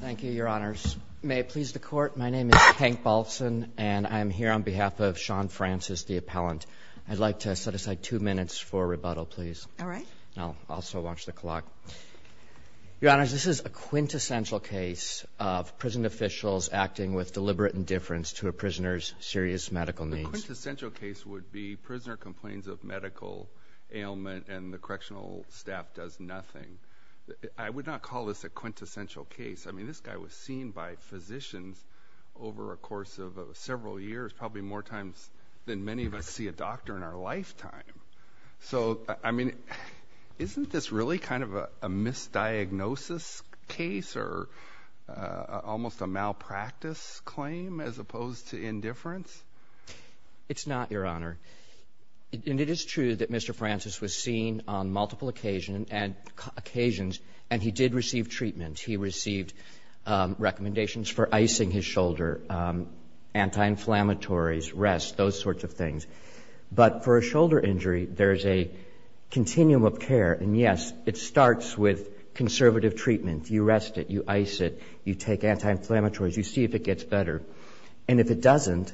Thank you, Your Honors. May it please the Court, my name is Hank Baltzan, and I'm here on behalf of Sean Francis, the appellant. I'd like to set aside two minutes for rebuttal, please. All right. I'll also watch the clock. Your Honors, this is a quintessential case of prison officials acting with deliberate indifference to a prisoner's serious medical needs. A quintessential case would be prisoner complains of medical ailment and the correctional staff does nothing. I would not call this a quintessential case. I mean, this guy was seen by physicians over a course of several years, probably more times than many of us see a doctor in our lifetime. So, I mean, isn't this really kind of a misdiagnosis case or almost a malpractice claim as opposed to indifference? It's not, Your Honor. And it is true that Mr. Francis was seen on multiple occasion and occasions, and he did receive treatment. He received recommendations for icing his shoulder, anti-inflammatories, rest, those sorts of things. But for a shoulder injury, there's a continuum of care. And, yes, it starts with conservative treatment. You rest it, you ice it, you take anti-inflammatories, you see if it gets better. And if it doesn't,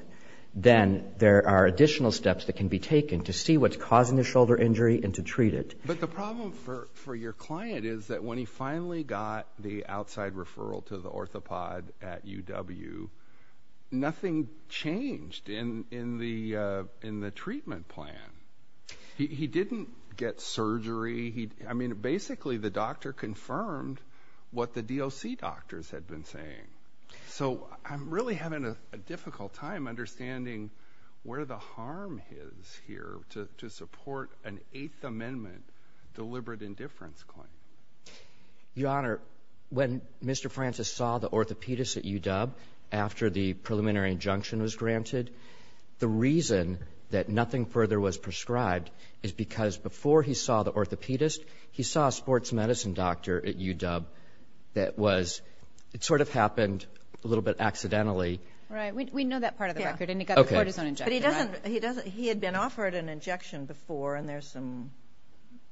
then there are additional steps that can be taken to see what's causing the shoulder injury and to treat it. But the problem for your client is that when he finally got the outside referral to the orthopod at UW, nothing changed in the treatment plan. He didn't get surgery. I mean, basically, the doctor confirmed what the DOC doctors had been saying. So I'm really having a difficult time understanding where the harm is here to support an Eighth Amendment deliberate indifference claim. Your Honor, when Mr. Francis saw the orthopedist at UW after the preliminary injunction was granted, the reason that nothing further was prescribed is because before he saw the orthopedist, he saw a sports medicine doctor at UW that was – it sort of happened a little bit accidentally. Right. We know that part of the record. And he got the cortisone injection. But he doesn't – he had been offered an injection before, and there's some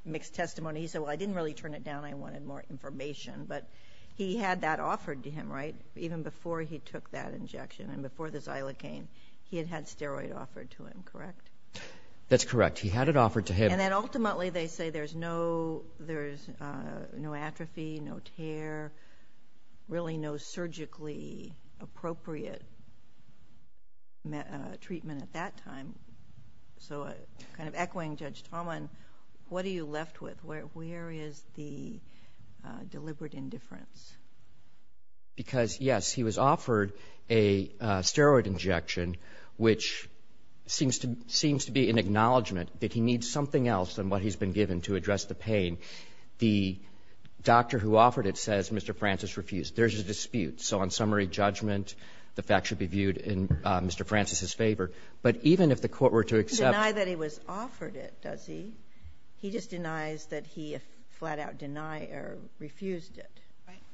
mixed testimony. He said, well, I didn't really turn it down. I wanted more information. But he had that offered to him, right, even before he took that injection and before the xylocaine. He had had steroid offered to him, correct? That's correct. He had it offered to him. And then ultimately they say there's no atrophy, no tear, really no surgically appropriate treatment at that time. So kind of echoing Judge Talman, what are you left with? Where is the deliberate indifference? Because, yes, he was offered a steroid injection, which seems to be an acknowledgment that he needs something else than what he's been given to address the pain. The doctor who offered it says Mr. Francis refused. There's a dispute. So on summary judgment, the fact should be viewed in Mr. Francis's favor. But even if the court were to accept – He doesn't deny that he was offered it, does he? He just denies that he flat-out denied or refused it.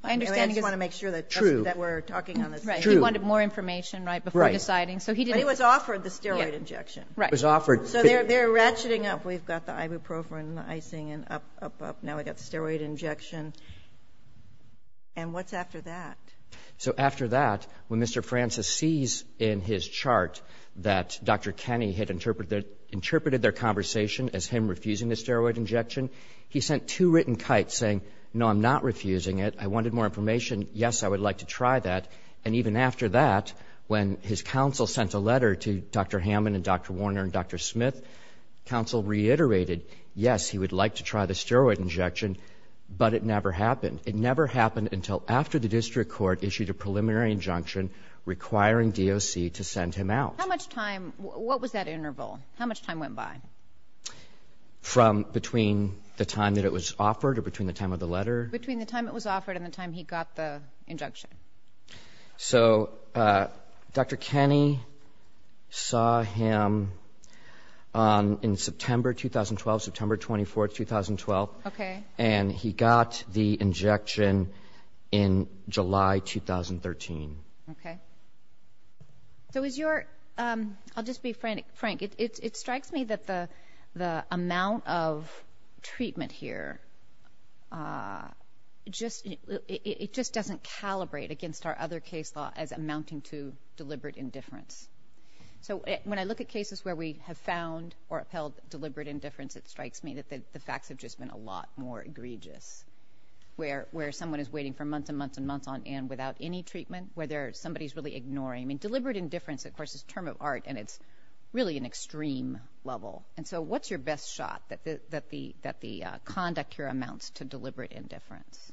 I just want to make sure that we're talking on the same page. He wanted more information, right, before deciding. But he was offered the steroid injection. He was offered. So they're ratcheting up. We've got the ibuprofen, the icing, and up, up, up. Now we've got the steroid injection. And what's after that? So after that, when Mr. Francis sees in his chart that Dr. Kenny had interpreted their conversation as him refusing the steroid injection, he sent two written kites saying, no, I'm not refusing it. I wanted more information. Yes, I would like to try that. And even after that, when his counsel sent a letter to Dr. Hammond and Dr. Warner and Dr. Smith, counsel reiterated, yes, he would like to try the steroid injection, but it never happened. It never happened until after the district court issued a preliminary injunction requiring DOC to send him out. How much time? What was that interval? How much time went by? From between the time that it was offered or between the time of the letter? Between the time it was offered and the time he got the injunction. So Dr. Kenny saw him in September 2012, September 24, 2012. Okay. And he got the injection in July 2013. Okay. So is your ‑‑ I'll just be frank. It strikes me that the amount of treatment here just doesn't calibrate against our other case law as amounting to deliberate indifference. So when I look at cases where we have found or upheld deliberate indifference, it strikes me that the facts have just been a lot more egregious, where someone is waiting for months and months and months on end without any treatment, where somebody is really ignoring. I mean, deliberate indifference, of course, is a term of art, and it's really an extreme level. And so what's your best shot that the conduct here amounts to deliberate indifference?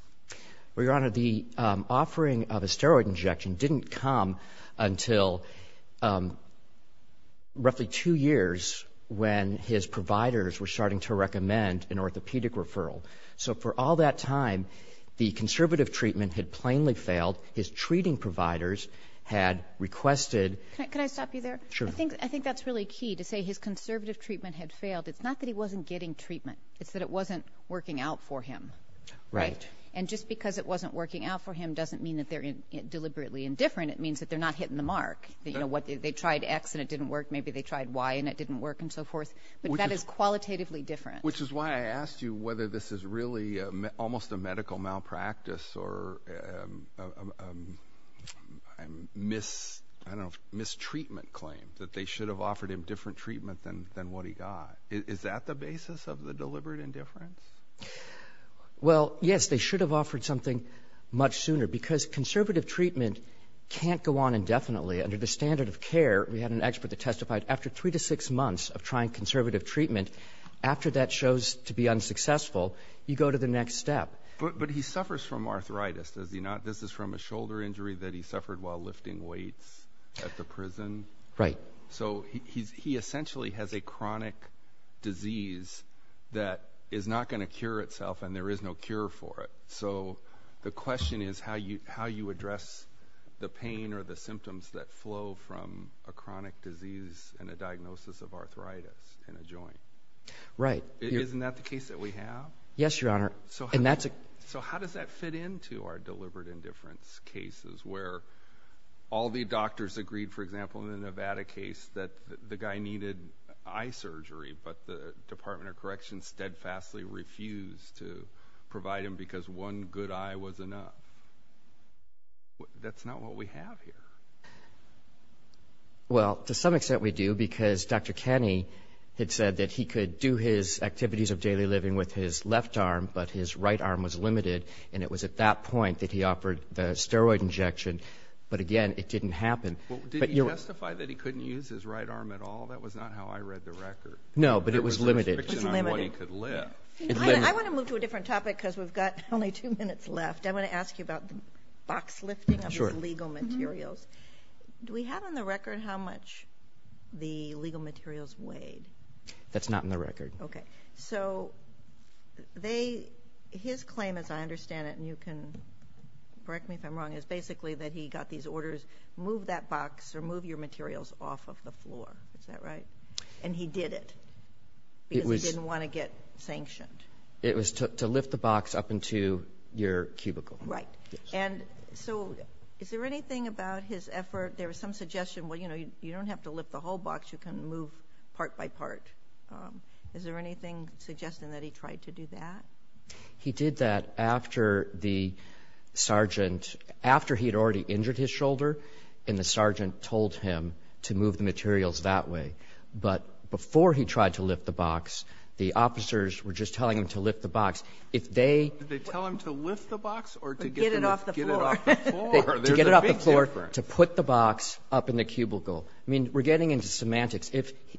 Well, Your Honor, the offering of a steroid injection didn't come until roughly two years when his providers were starting to recommend an orthopedic referral. So for all that time, the conservative treatment had plainly failed. His treating providers had requested ‑‑ Can I stop you there? Sure. I think that's really key, to say his conservative treatment had failed. It's not that he wasn't getting treatment. It's that it wasn't working out for him. Right. And just because it wasn't working out for him doesn't mean that they're deliberately indifferent. It means that they're not hitting the mark. You know, they tried X and it didn't work. Maybe they tried Y and it didn't work and so forth. But that is qualitatively different. Which is why I asked you whether this is really almost a medical malpractice or a mistreatment claim, that they should have offered him different treatment than what he got. Is that the basis of the deliberate indifference? Well, yes, they should have offered something much sooner because conservative treatment can't go on indefinitely. Under the standard of care, we had an expert that testified, after three to six months of trying conservative treatment, after that shows to be unsuccessful, you go to the next step. But he suffers from arthritis, does he not? This is from a shoulder injury that he suffered while lifting weights at the prison. Right. So he essentially has a chronic disease that is not going to cure itself, and there is no cure for it. So the question is how you address the pain or the symptoms that flow from a chronic disease and a diagnosis of arthritis in a joint. Right. Isn't that the case that we have? Yes, Your Honor. So how does that fit into our deliberate indifference cases where all the doctors agreed, for example, in the Nevada case, that the guy needed eye surgery, but the Department of Corrections steadfastly refused to provide him because one good eye was enough? That's not what we have here. Well, to some extent we do because Dr. Kenney had said that he could do his activities of daily living with his left arm, but his right arm was limited, and it was at that point that he offered the steroid injection. But, again, it didn't happen. Did he justify that he couldn't use his right arm at all? That was not how I read the record. No, but it was limited. There was a restriction on what he could lift. I want to move to a different topic because we've got only two minutes left. I want to ask you about the box lifting of your legal materials. Do we have on the record how much the legal materials weighed? That's not in the record. Okay. So his claim, as I understand it, and you can correct me if I'm wrong, is basically that he got these orders, move that box or move your materials off of the floor. Is that right? And he did it. Because he didn't want to get sanctioned. It was to lift the box up into your cubicle. Right. And so is there anything about his effort, there was some suggestion, well, you know, you don't have to lift the whole box. You can move part by part. Is there anything suggesting that he tried to do that? He did that after the sergeant, after he had already injured his shoulder, and the sergeant told him to move the materials that way. But before he tried to lift the box, the officers were just telling him to lift the box. Did they tell him to lift the box or to get it off the floor? To get it off the floor, to put the box up in the cubicle. I mean, we're getting into semantics.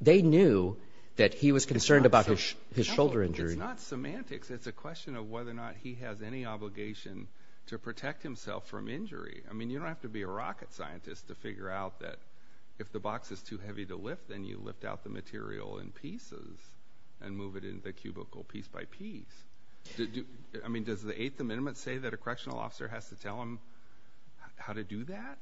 They knew that he was concerned about his shoulder injury. It's not semantics. It's a question of whether or not he has any obligation to protect himself from injury. I mean, you don't have to be a rocket scientist to figure out that if the box is too heavy to lift, then you lift out the material in pieces and move it in the cubicle piece by piece. I mean, does the Eighth Amendment say that a correctional officer has to tell him how to do that?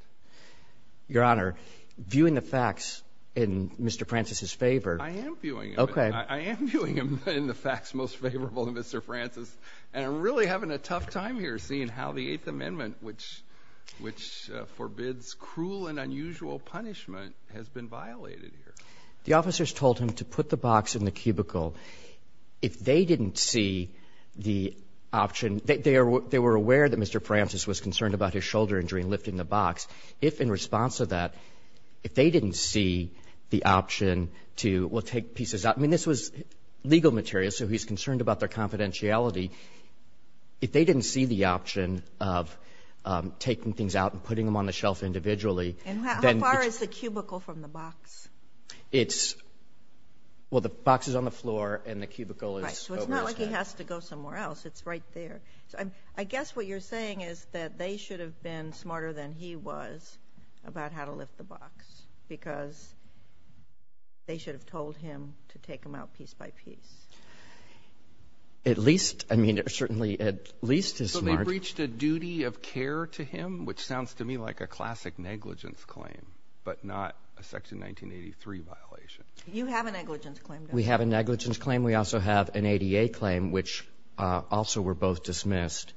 Your Honor, viewing the facts in Mr. Francis's favor. I am viewing them. Okay. I am viewing them in the facts most favorable to Mr. Francis, and I'm really having a tough time here seeing how the Eighth Amendment, which forbids cruel and unusual punishment, has been violated here. The officers told him to put the box in the cubicle. If they didn't see the option, they were aware that Mr. Francis was concerned about his shoulder injury and lifting the box. If in response to that, if they didn't see the option to, well, take pieces out. I mean, this was legal material, so he's concerned about their confidentiality. If they didn't see the option of taking things out and putting them on the shelf individually. And how far is the cubicle from the box? It's, well, the box is on the floor and the cubicle is over this way. So it's not like he has to go somewhere else. It's right there. I guess what you're saying is that they should have been smarter than he was about how to lift the box because they should have told him to take them out piece by piece. At least, I mean, certainly at least as smart. So they breached a duty of care to him, which sounds to me like a classic negligence claim, but not a Section 1983 violation. You have a negligence claim, don't you? We have a negligence claim. We also have an ADA claim, which also were both dismissed.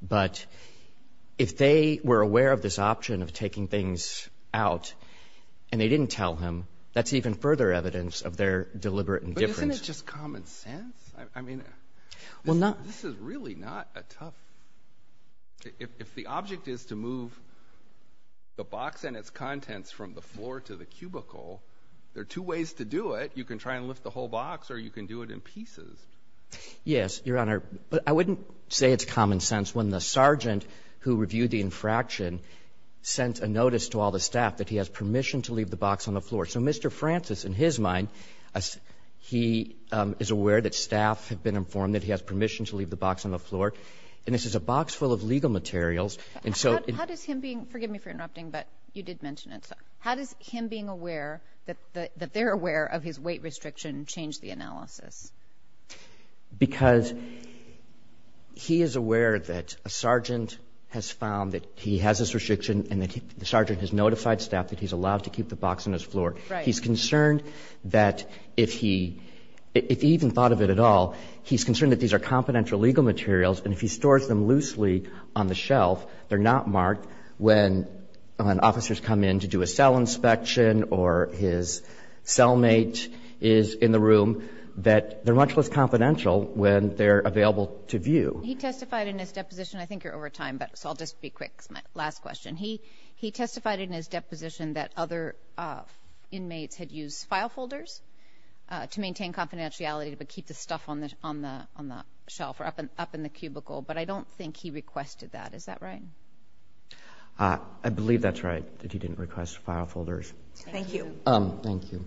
But if they were aware of this option of taking things out and they didn't tell him, that's even further evidence of their deliberate indifference. Isn't it just common sense? I mean, this is really not a tough – if the object is to move the box and its contents from the floor to the cubicle, there are two ways to do it. You can try and lift the whole box or you can do it in pieces. Yes, Your Honor. But I wouldn't say it's common sense when the sergeant who reviewed the infraction sent a notice to all the staff that he has permission to leave the box on the floor. So Mr. Francis, in his mind, he is aware that staff have been informed that he has permission to leave the box on the floor. And this is a box full of legal materials. And so – How does him being – forgive me for interrupting, but you did mention it. How does him being aware that they're aware of his weight restriction change the analysis? Because he is aware that a sergeant has found that he has this restriction and the sergeant has notified staff that he's allowed to keep the box on his floor. Right. He's concerned that if he – if he even thought of it at all, he's concerned that these are confidential legal materials and if he stores them loosely on the shelf, they're not marked when officers come in to do a cell inspection or his cellmate is in the room, that they're much less confidential when they're available to view. He testified in his deposition – I think you're over time, but I'll just be quick to ask my last question. He testified in his deposition that other inmates had used file folders to maintain confidentiality but keep the stuff on the shelf or up in the cubicle. But I don't think he requested that. Is that right? I believe that's right, that he didn't request file folders. Thank you. Thank you.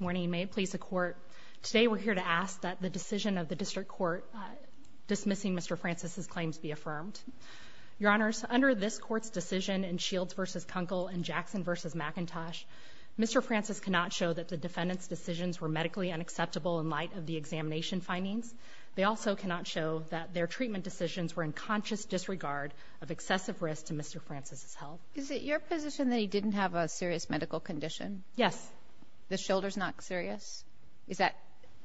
Morning. May it please the Court. Today we're here to ask that the decision of the district court dismissing Mr. Francis's claims be affirmed. Your Honors, under this Court's decision in Shields v. Kunkel and Jackson v. McIntosh, Mr. Francis cannot show that the defendant's decisions were medically unacceptable in light of the examination findings. They also cannot show that their treatment decisions were in conscious disregard of excessive risk to Mr. Francis's health. Is it your position that he didn't have a serious medical condition? Yes. The shoulder's not serious? Is that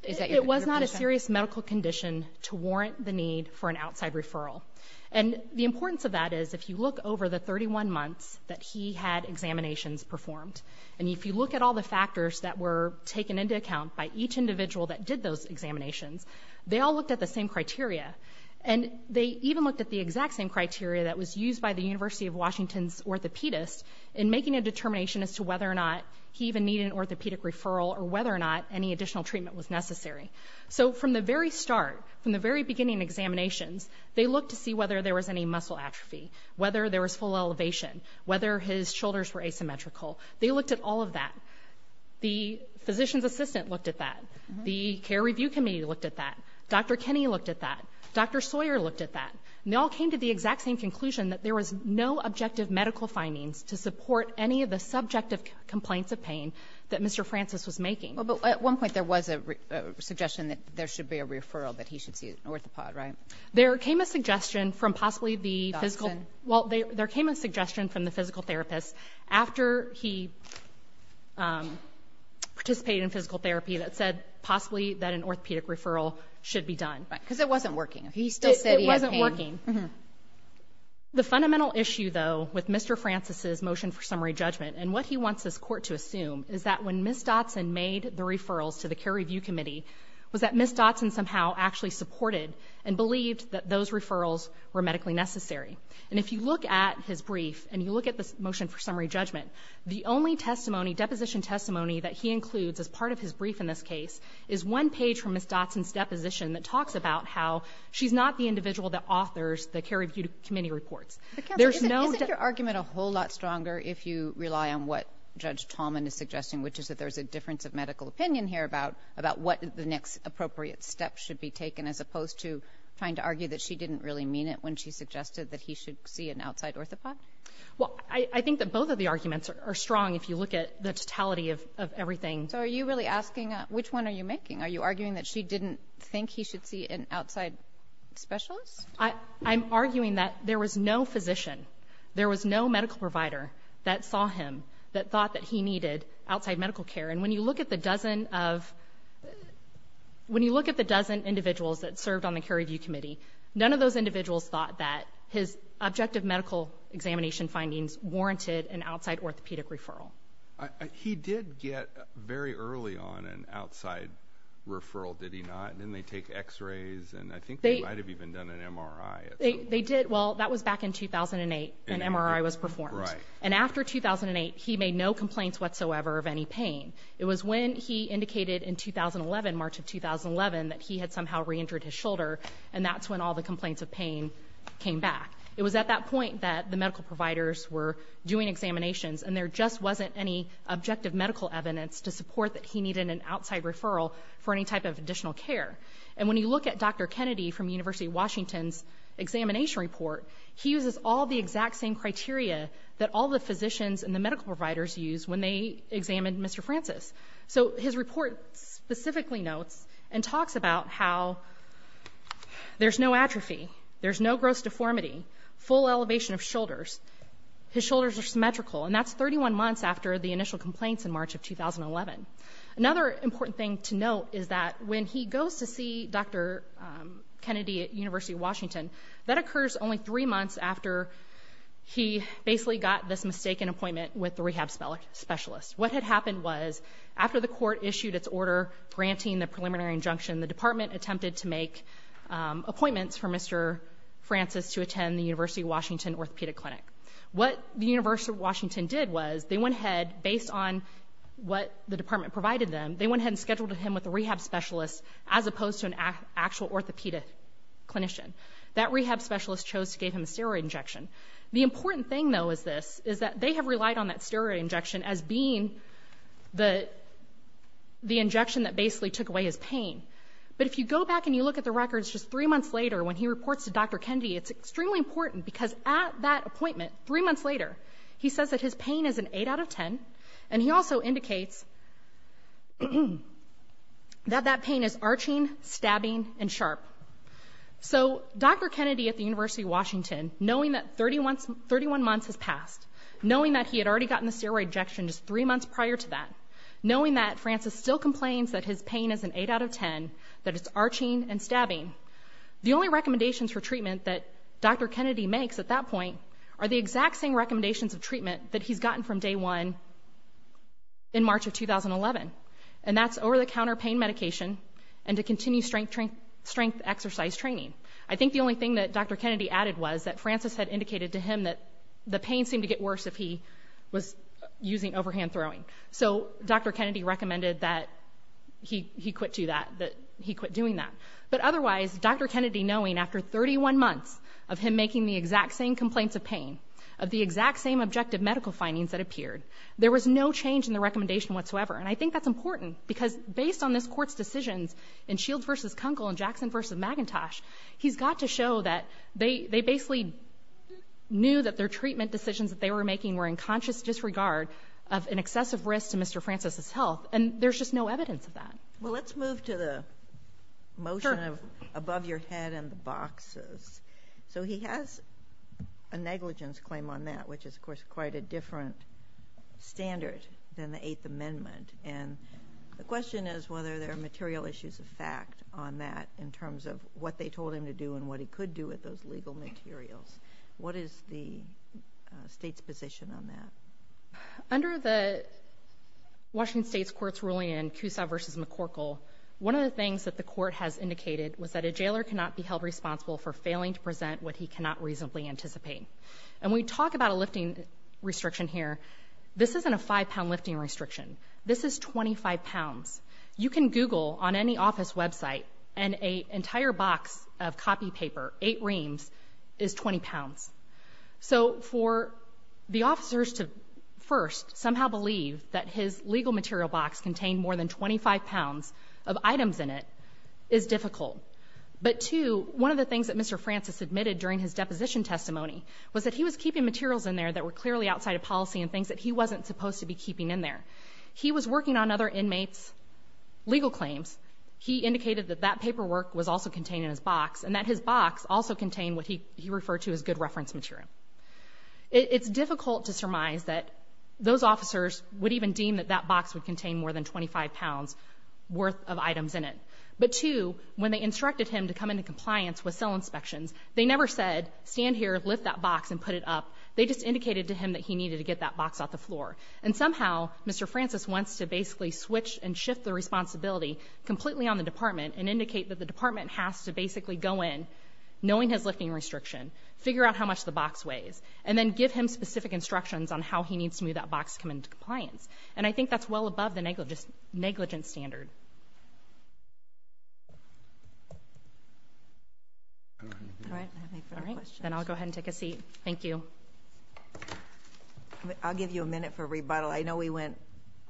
your position? It was not a serious medical condition to warrant the need for an outside referral. And the importance of that is if you look over the 31 months that he had examinations performed, and if you look at all the factors that were taken into account by each individual that did those examinations, they all looked at the same criteria. And they even looked at the exact same criteria that was used by the University of Washington's orthopedist in making a determination as to whether or not he even needed an orthopedic referral or whether or not any additional treatment was necessary. So from the very start, from the very beginning of examinations, they looked to see whether there was any muscle atrophy, whether there was full elevation, whether his shoulders were asymmetrical. They looked at all of that. The physician's assistant looked at that. The care review committee looked at that. Dr. Kinney looked at that. Dr. Sawyer looked at that. And they all came to the exact same conclusion that there was no objective medical findings to support any of the subjective complaints of pain that Mr. Francis was making. Well, but at one point there was a suggestion that there should be a referral, that he should see an orthopod, right? There came a suggestion from possibly the physical therapist after he participated in physical therapy that said possibly that an orthopedic referral should be done. Right. Because it wasn't working. He still said he had pain. It wasn't working. The fundamental issue, though, with Mr. Francis's motion for summary judgment and what he wants this Court to assume is that when Ms. Dotson made the referrals to the care review committee was that Ms. Dotson somehow actually supported and believed that those referrals were medically necessary. And if you look at his brief and you look at the motion for summary judgment, the only testimony, deposition testimony that he includes as part of his brief in this case is one page from Ms. Dotson's deposition that talks about how she's not the individual that authors the care review committee reports. There's no debt. Isn't your argument a whole lot stronger if you rely on what Judge Tallman is suggesting, which is that there's a difference of medical opinion here about what the next appropriate step should be taken as opposed to trying to argue that she didn't really mean it when she suggested that he should see an outside orthopod? Well, I think that both of the arguments are strong if you look at the totality of everything. So are you really asking which one are you making? Are you arguing that she didn't think he should see an outside specialist? I'm arguing that there was no physician, there was no medical provider that saw him, that thought that he needed outside medical care. And when you look at the dozen of — when you look at the dozen individuals that served on the care review committee, none of those individuals thought that his objective medical examination findings warranted an outside orthopedic referral. He did get, very early on, an outside referral, did he not? Didn't they take x-rays? And I think they might have even done an MRI. They did. Well, that was back in 2008, an MRI was performed. And after 2008, he made no complaints whatsoever of any pain. It was when he indicated in 2011, March of 2011, that he had somehow re-injured his shoulder, and that's when all the complaints of pain came back. It was at that point that the medical providers were doing examinations, and there just wasn't any objective medical evidence to support that he needed an outside referral for any type of additional care. And when you look at Dr. Kennedy from the University of Washington's examination report, he uses all the exact same criteria that all the physicians and the medical providers use when they examine Mr. Francis. So his report specifically notes and talks about how there's no atrophy, there's no gross deformity, full elevation of shoulders, his shoulders are symmetrical, and that's 31 months after the initial complaints in March of 2011. Another important thing to note is that when he goes to see Dr. Kennedy at University of Washington, that occurs only three months after he basically got this mistaken appointment with the rehab specialist. What had happened was after the court issued its order granting the preliminary injunction, the department attempted to make appointments for Mr. Francis to attend the University of Washington orthopedic clinic. What the University of Washington did was they went ahead, based on what the department provided them, they went ahead and scheduled him with a rehab specialist as opposed to an actual orthopedic clinician. That rehab specialist chose to give him a steroid injection. The important thing, though, is this, is that they have relied on that steroid injection as being the injection that basically took away his pain. But if you go back and you look at the records just three months later, when he reports to Dr. Kennedy, it's extremely important because at that appointment, three months later, he says that his pain is an 8 out of 10, and he also indicates that that pain is arching, stabbing, and sharp. So Dr. Kennedy at the University of Washington, knowing that 31 months has passed, knowing that he had already gotten the steroid injection just three months prior to that, knowing that Francis still complains that his pain is an 8 out of 10, that it's arching and stabbing, the only recommendations for treatment that Dr. Kennedy makes at that point are the exact same recommendations of treatment that he's gotten from day one in March of 2011, and that's over-the-counter pain medication and to continue strength exercise training. I think the only thing that Dr. Kennedy added was that Francis had indicated to him that the pain seemed to get worse if he was using overhand throwing. So Dr. Kennedy recommended that he quit doing that. But otherwise, Dr. Kennedy knowing after 31 months of him making the exact same complaints of pain, of the exact same objective medical findings that appeared, there was no change in the recommendation whatsoever. And I think that's important, because based on this Court's decisions in Shields v. Kunkel and Jackson v. Magentosh, he's got to show that they basically knew that their treatment decisions that they were making were in conscious disregard of an excessive risk to Mr. Francis' health, and there's just no evidence of that. Sotomayor Well, let's move to the motion of above your head and the boxes. So he has a negligence claim on that, which is, of course, quite a different standard than the Eighth Amendment. And the question is whether there are material issues of fact on that in terms of what they told him to do and what he could do with those legal materials. What is the State's position on that? Under the Washington State's Court's ruling in Cusa v. McCorkle, one of the things that the Court has indicated was that a jailer cannot be held responsible for failing to present what he cannot reasonably anticipate. And we talk about a lifting restriction here. This isn't a five-pound lifting restriction. This is 25 pounds. You can Google on any office website, and an entire box of copy paper, eight reams, is 20 pounds. So for the officers to, first, somehow believe that his legal material box contained more than 25 pounds of items in it is difficult. But, two, one of the things that Mr. Francis admitted during his deposition testimony was that he was keeping materials in there that were clearly outside of policy and things that he wasn't supposed to be keeping in there. He was working on other inmates' legal claims. He indicated that that paperwork was also contained in his box, and that his box also contained what he referred to as good reference material. It's difficult to surmise that those officers would even deem that that box would contain more than 25 pounds' worth of items in it. But, two, when they instructed him to come into compliance with cell inspections, they never said, stand here, lift that box, and put it up. They just indicated to him that he needed to get that box off the floor. And somehow, Mr. Francis wants to basically switch and shift the responsibility completely on the department and indicate that the department has to basically go in, knowing his lifting restriction, figure out how much the box weighs, and then give him specific instructions on how he needs to move that box to come into compliance. And I think that's well above the negligence standard. All right. Then I'll go ahead and take a seat. Thank you. I'll give you a minute for rebuttal. I know we went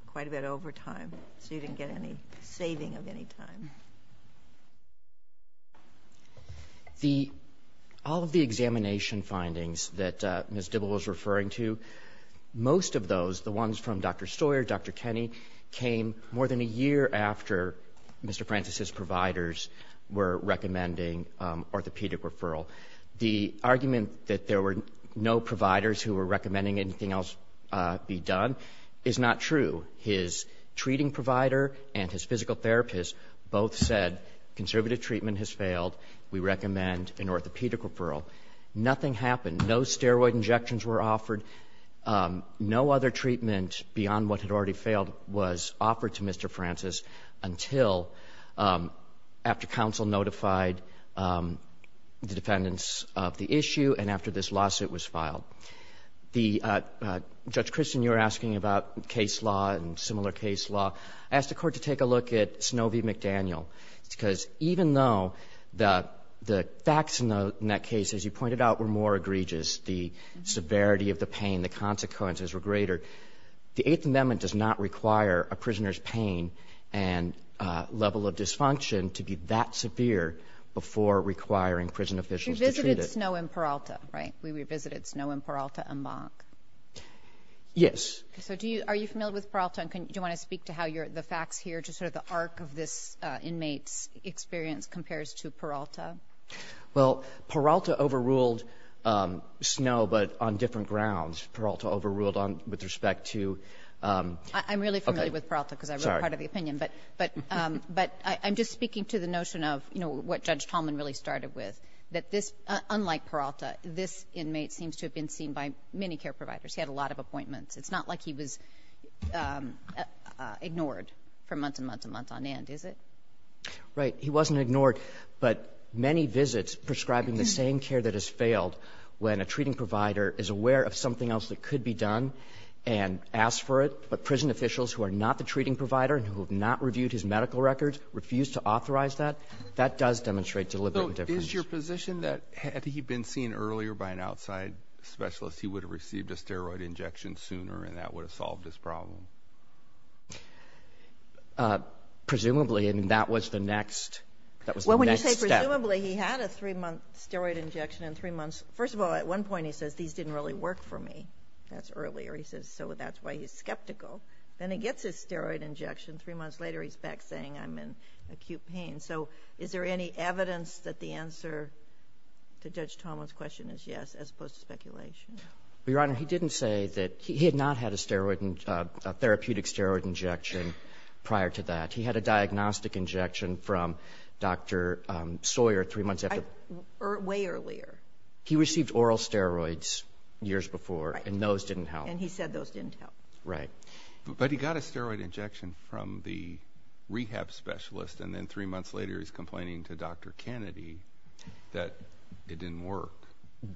quite a bit over time, so you didn't get any saving of any time. The all of the examination findings that Ms. Dibble was referring to, most of those, the ones from Dr. Stoyer, Dr. Kenney, came more than a year after Mr. Francis's providers were recommending orthopedic referral. The argument that there were no providers who were recommending anything else be done is not true. His treating provider and his physical therapist both said, conservative treatment has failed. We recommend an orthopedic referral. Nothing happened. No steroid injections were offered. No other treatment beyond what had already failed was offered to Mr. Francis until, after counsel notified the defendants of the issue and after this lawsuit was filed. The Judge Christian, you were asking about case law and similar case law. I asked the Court to take a look at Snovey McDaniel, because even though the facts in that case, as you pointed out, were more egregious, the severity of the pain, the consequences were greater, the Eighth Amendment does not require a prisoner's level of dysfunction to be that severe before requiring prison officials to treat it. You revisited Snow and Peralta, right? We revisited Snow and Peralta en banc. Yes. So do you ‑‑ are you familiar with Peralta? And do you want to speak to how the facts here, just sort of the arc of this inmate's experience compares to Peralta? Well, Peralta overruled Snow, but on different grounds. Peralta overruled on ‑‑ with respect to ‑‑ I'm really familiar with Peralta, because I wrote part of the opinion. But ‑‑ but I'm just speaking to the notion of, you know, what Judge Tallman really started with, that this ‑‑ unlike Peralta, this inmate seems to have been seen by many care providers. He had a lot of appointments. It's not like he was ignored for months and months and months on end, is it? Right. He wasn't ignored. But many visits prescribing the same care that has failed when a treating provider is aware of something else that could be done and asks for it, but prison officials who are not the treating provider and who have not reviewed his medical records refuse to authorize that, that does demonstrate deliberate indifference. So is your position that had he been seen earlier by an outside specialist, he would have received a steroid injection sooner and that would have solved his problem? Presumably. And that was the next ‑‑ that was the next step. Well, when you say presumably, he had a three‑month steroid injection in three months. First of all, at one point he says, these didn't really work for me. That's earlier. He says, so that's why he's skeptical. Then he gets his steroid injection, three months later he's back saying, I'm in acute pain. So is there any evidence that the answer to Judge Tolman's question is yes, as opposed to speculation? Your Honor, he didn't say that ‑‑ he had not had a steroid, a therapeutic steroid injection prior to that. He had a diagnostic injection from Dr. Sawyer three months after ‑‑ Way earlier. He received oral steroids years before. Right. And those didn't help. And he said those didn't help. Right. But he got a steroid injection from the rehab specialist and then three months later he's complaining to Dr. Kennedy that it didn't work.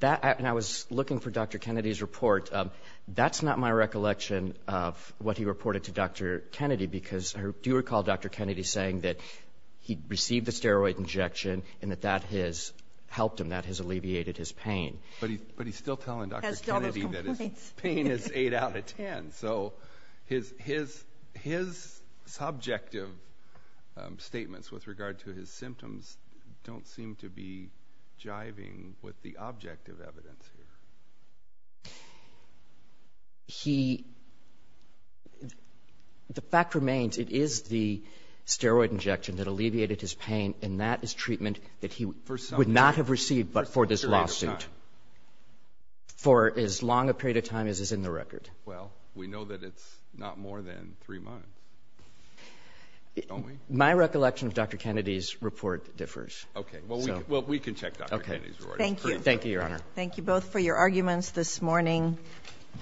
That ‑‑ and I was looking for Dr. Kennedy's report. That's not my recollection of what he reported to Dr. Kennedy because I do recall Dr. Kennedy saying that he received a steroid injection and that that has helped him, that has alleviated his pain. But he's still telling Dr. Kennedy that his pain is 8 out of 10. So his subjective statements with regard to his symptoms don't seem to be jiving with the objective evidence here. He ‑‑ the fact remains, it is the steroid injection that alleviated his pain and that he would not have received but for this lawsuit for as long a period of time as is in the record. Well, we know that it's not more than three months, don't we? My recollection of Dr. Kennedy's report differs. Okay. Well, we can check Dr. Kennedy's report. Okay. Thank you. Thank you, Your Honor. Thank you both for your arguments this morning.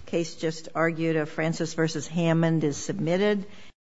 The case just argued of Francis v. Hammond is submitted.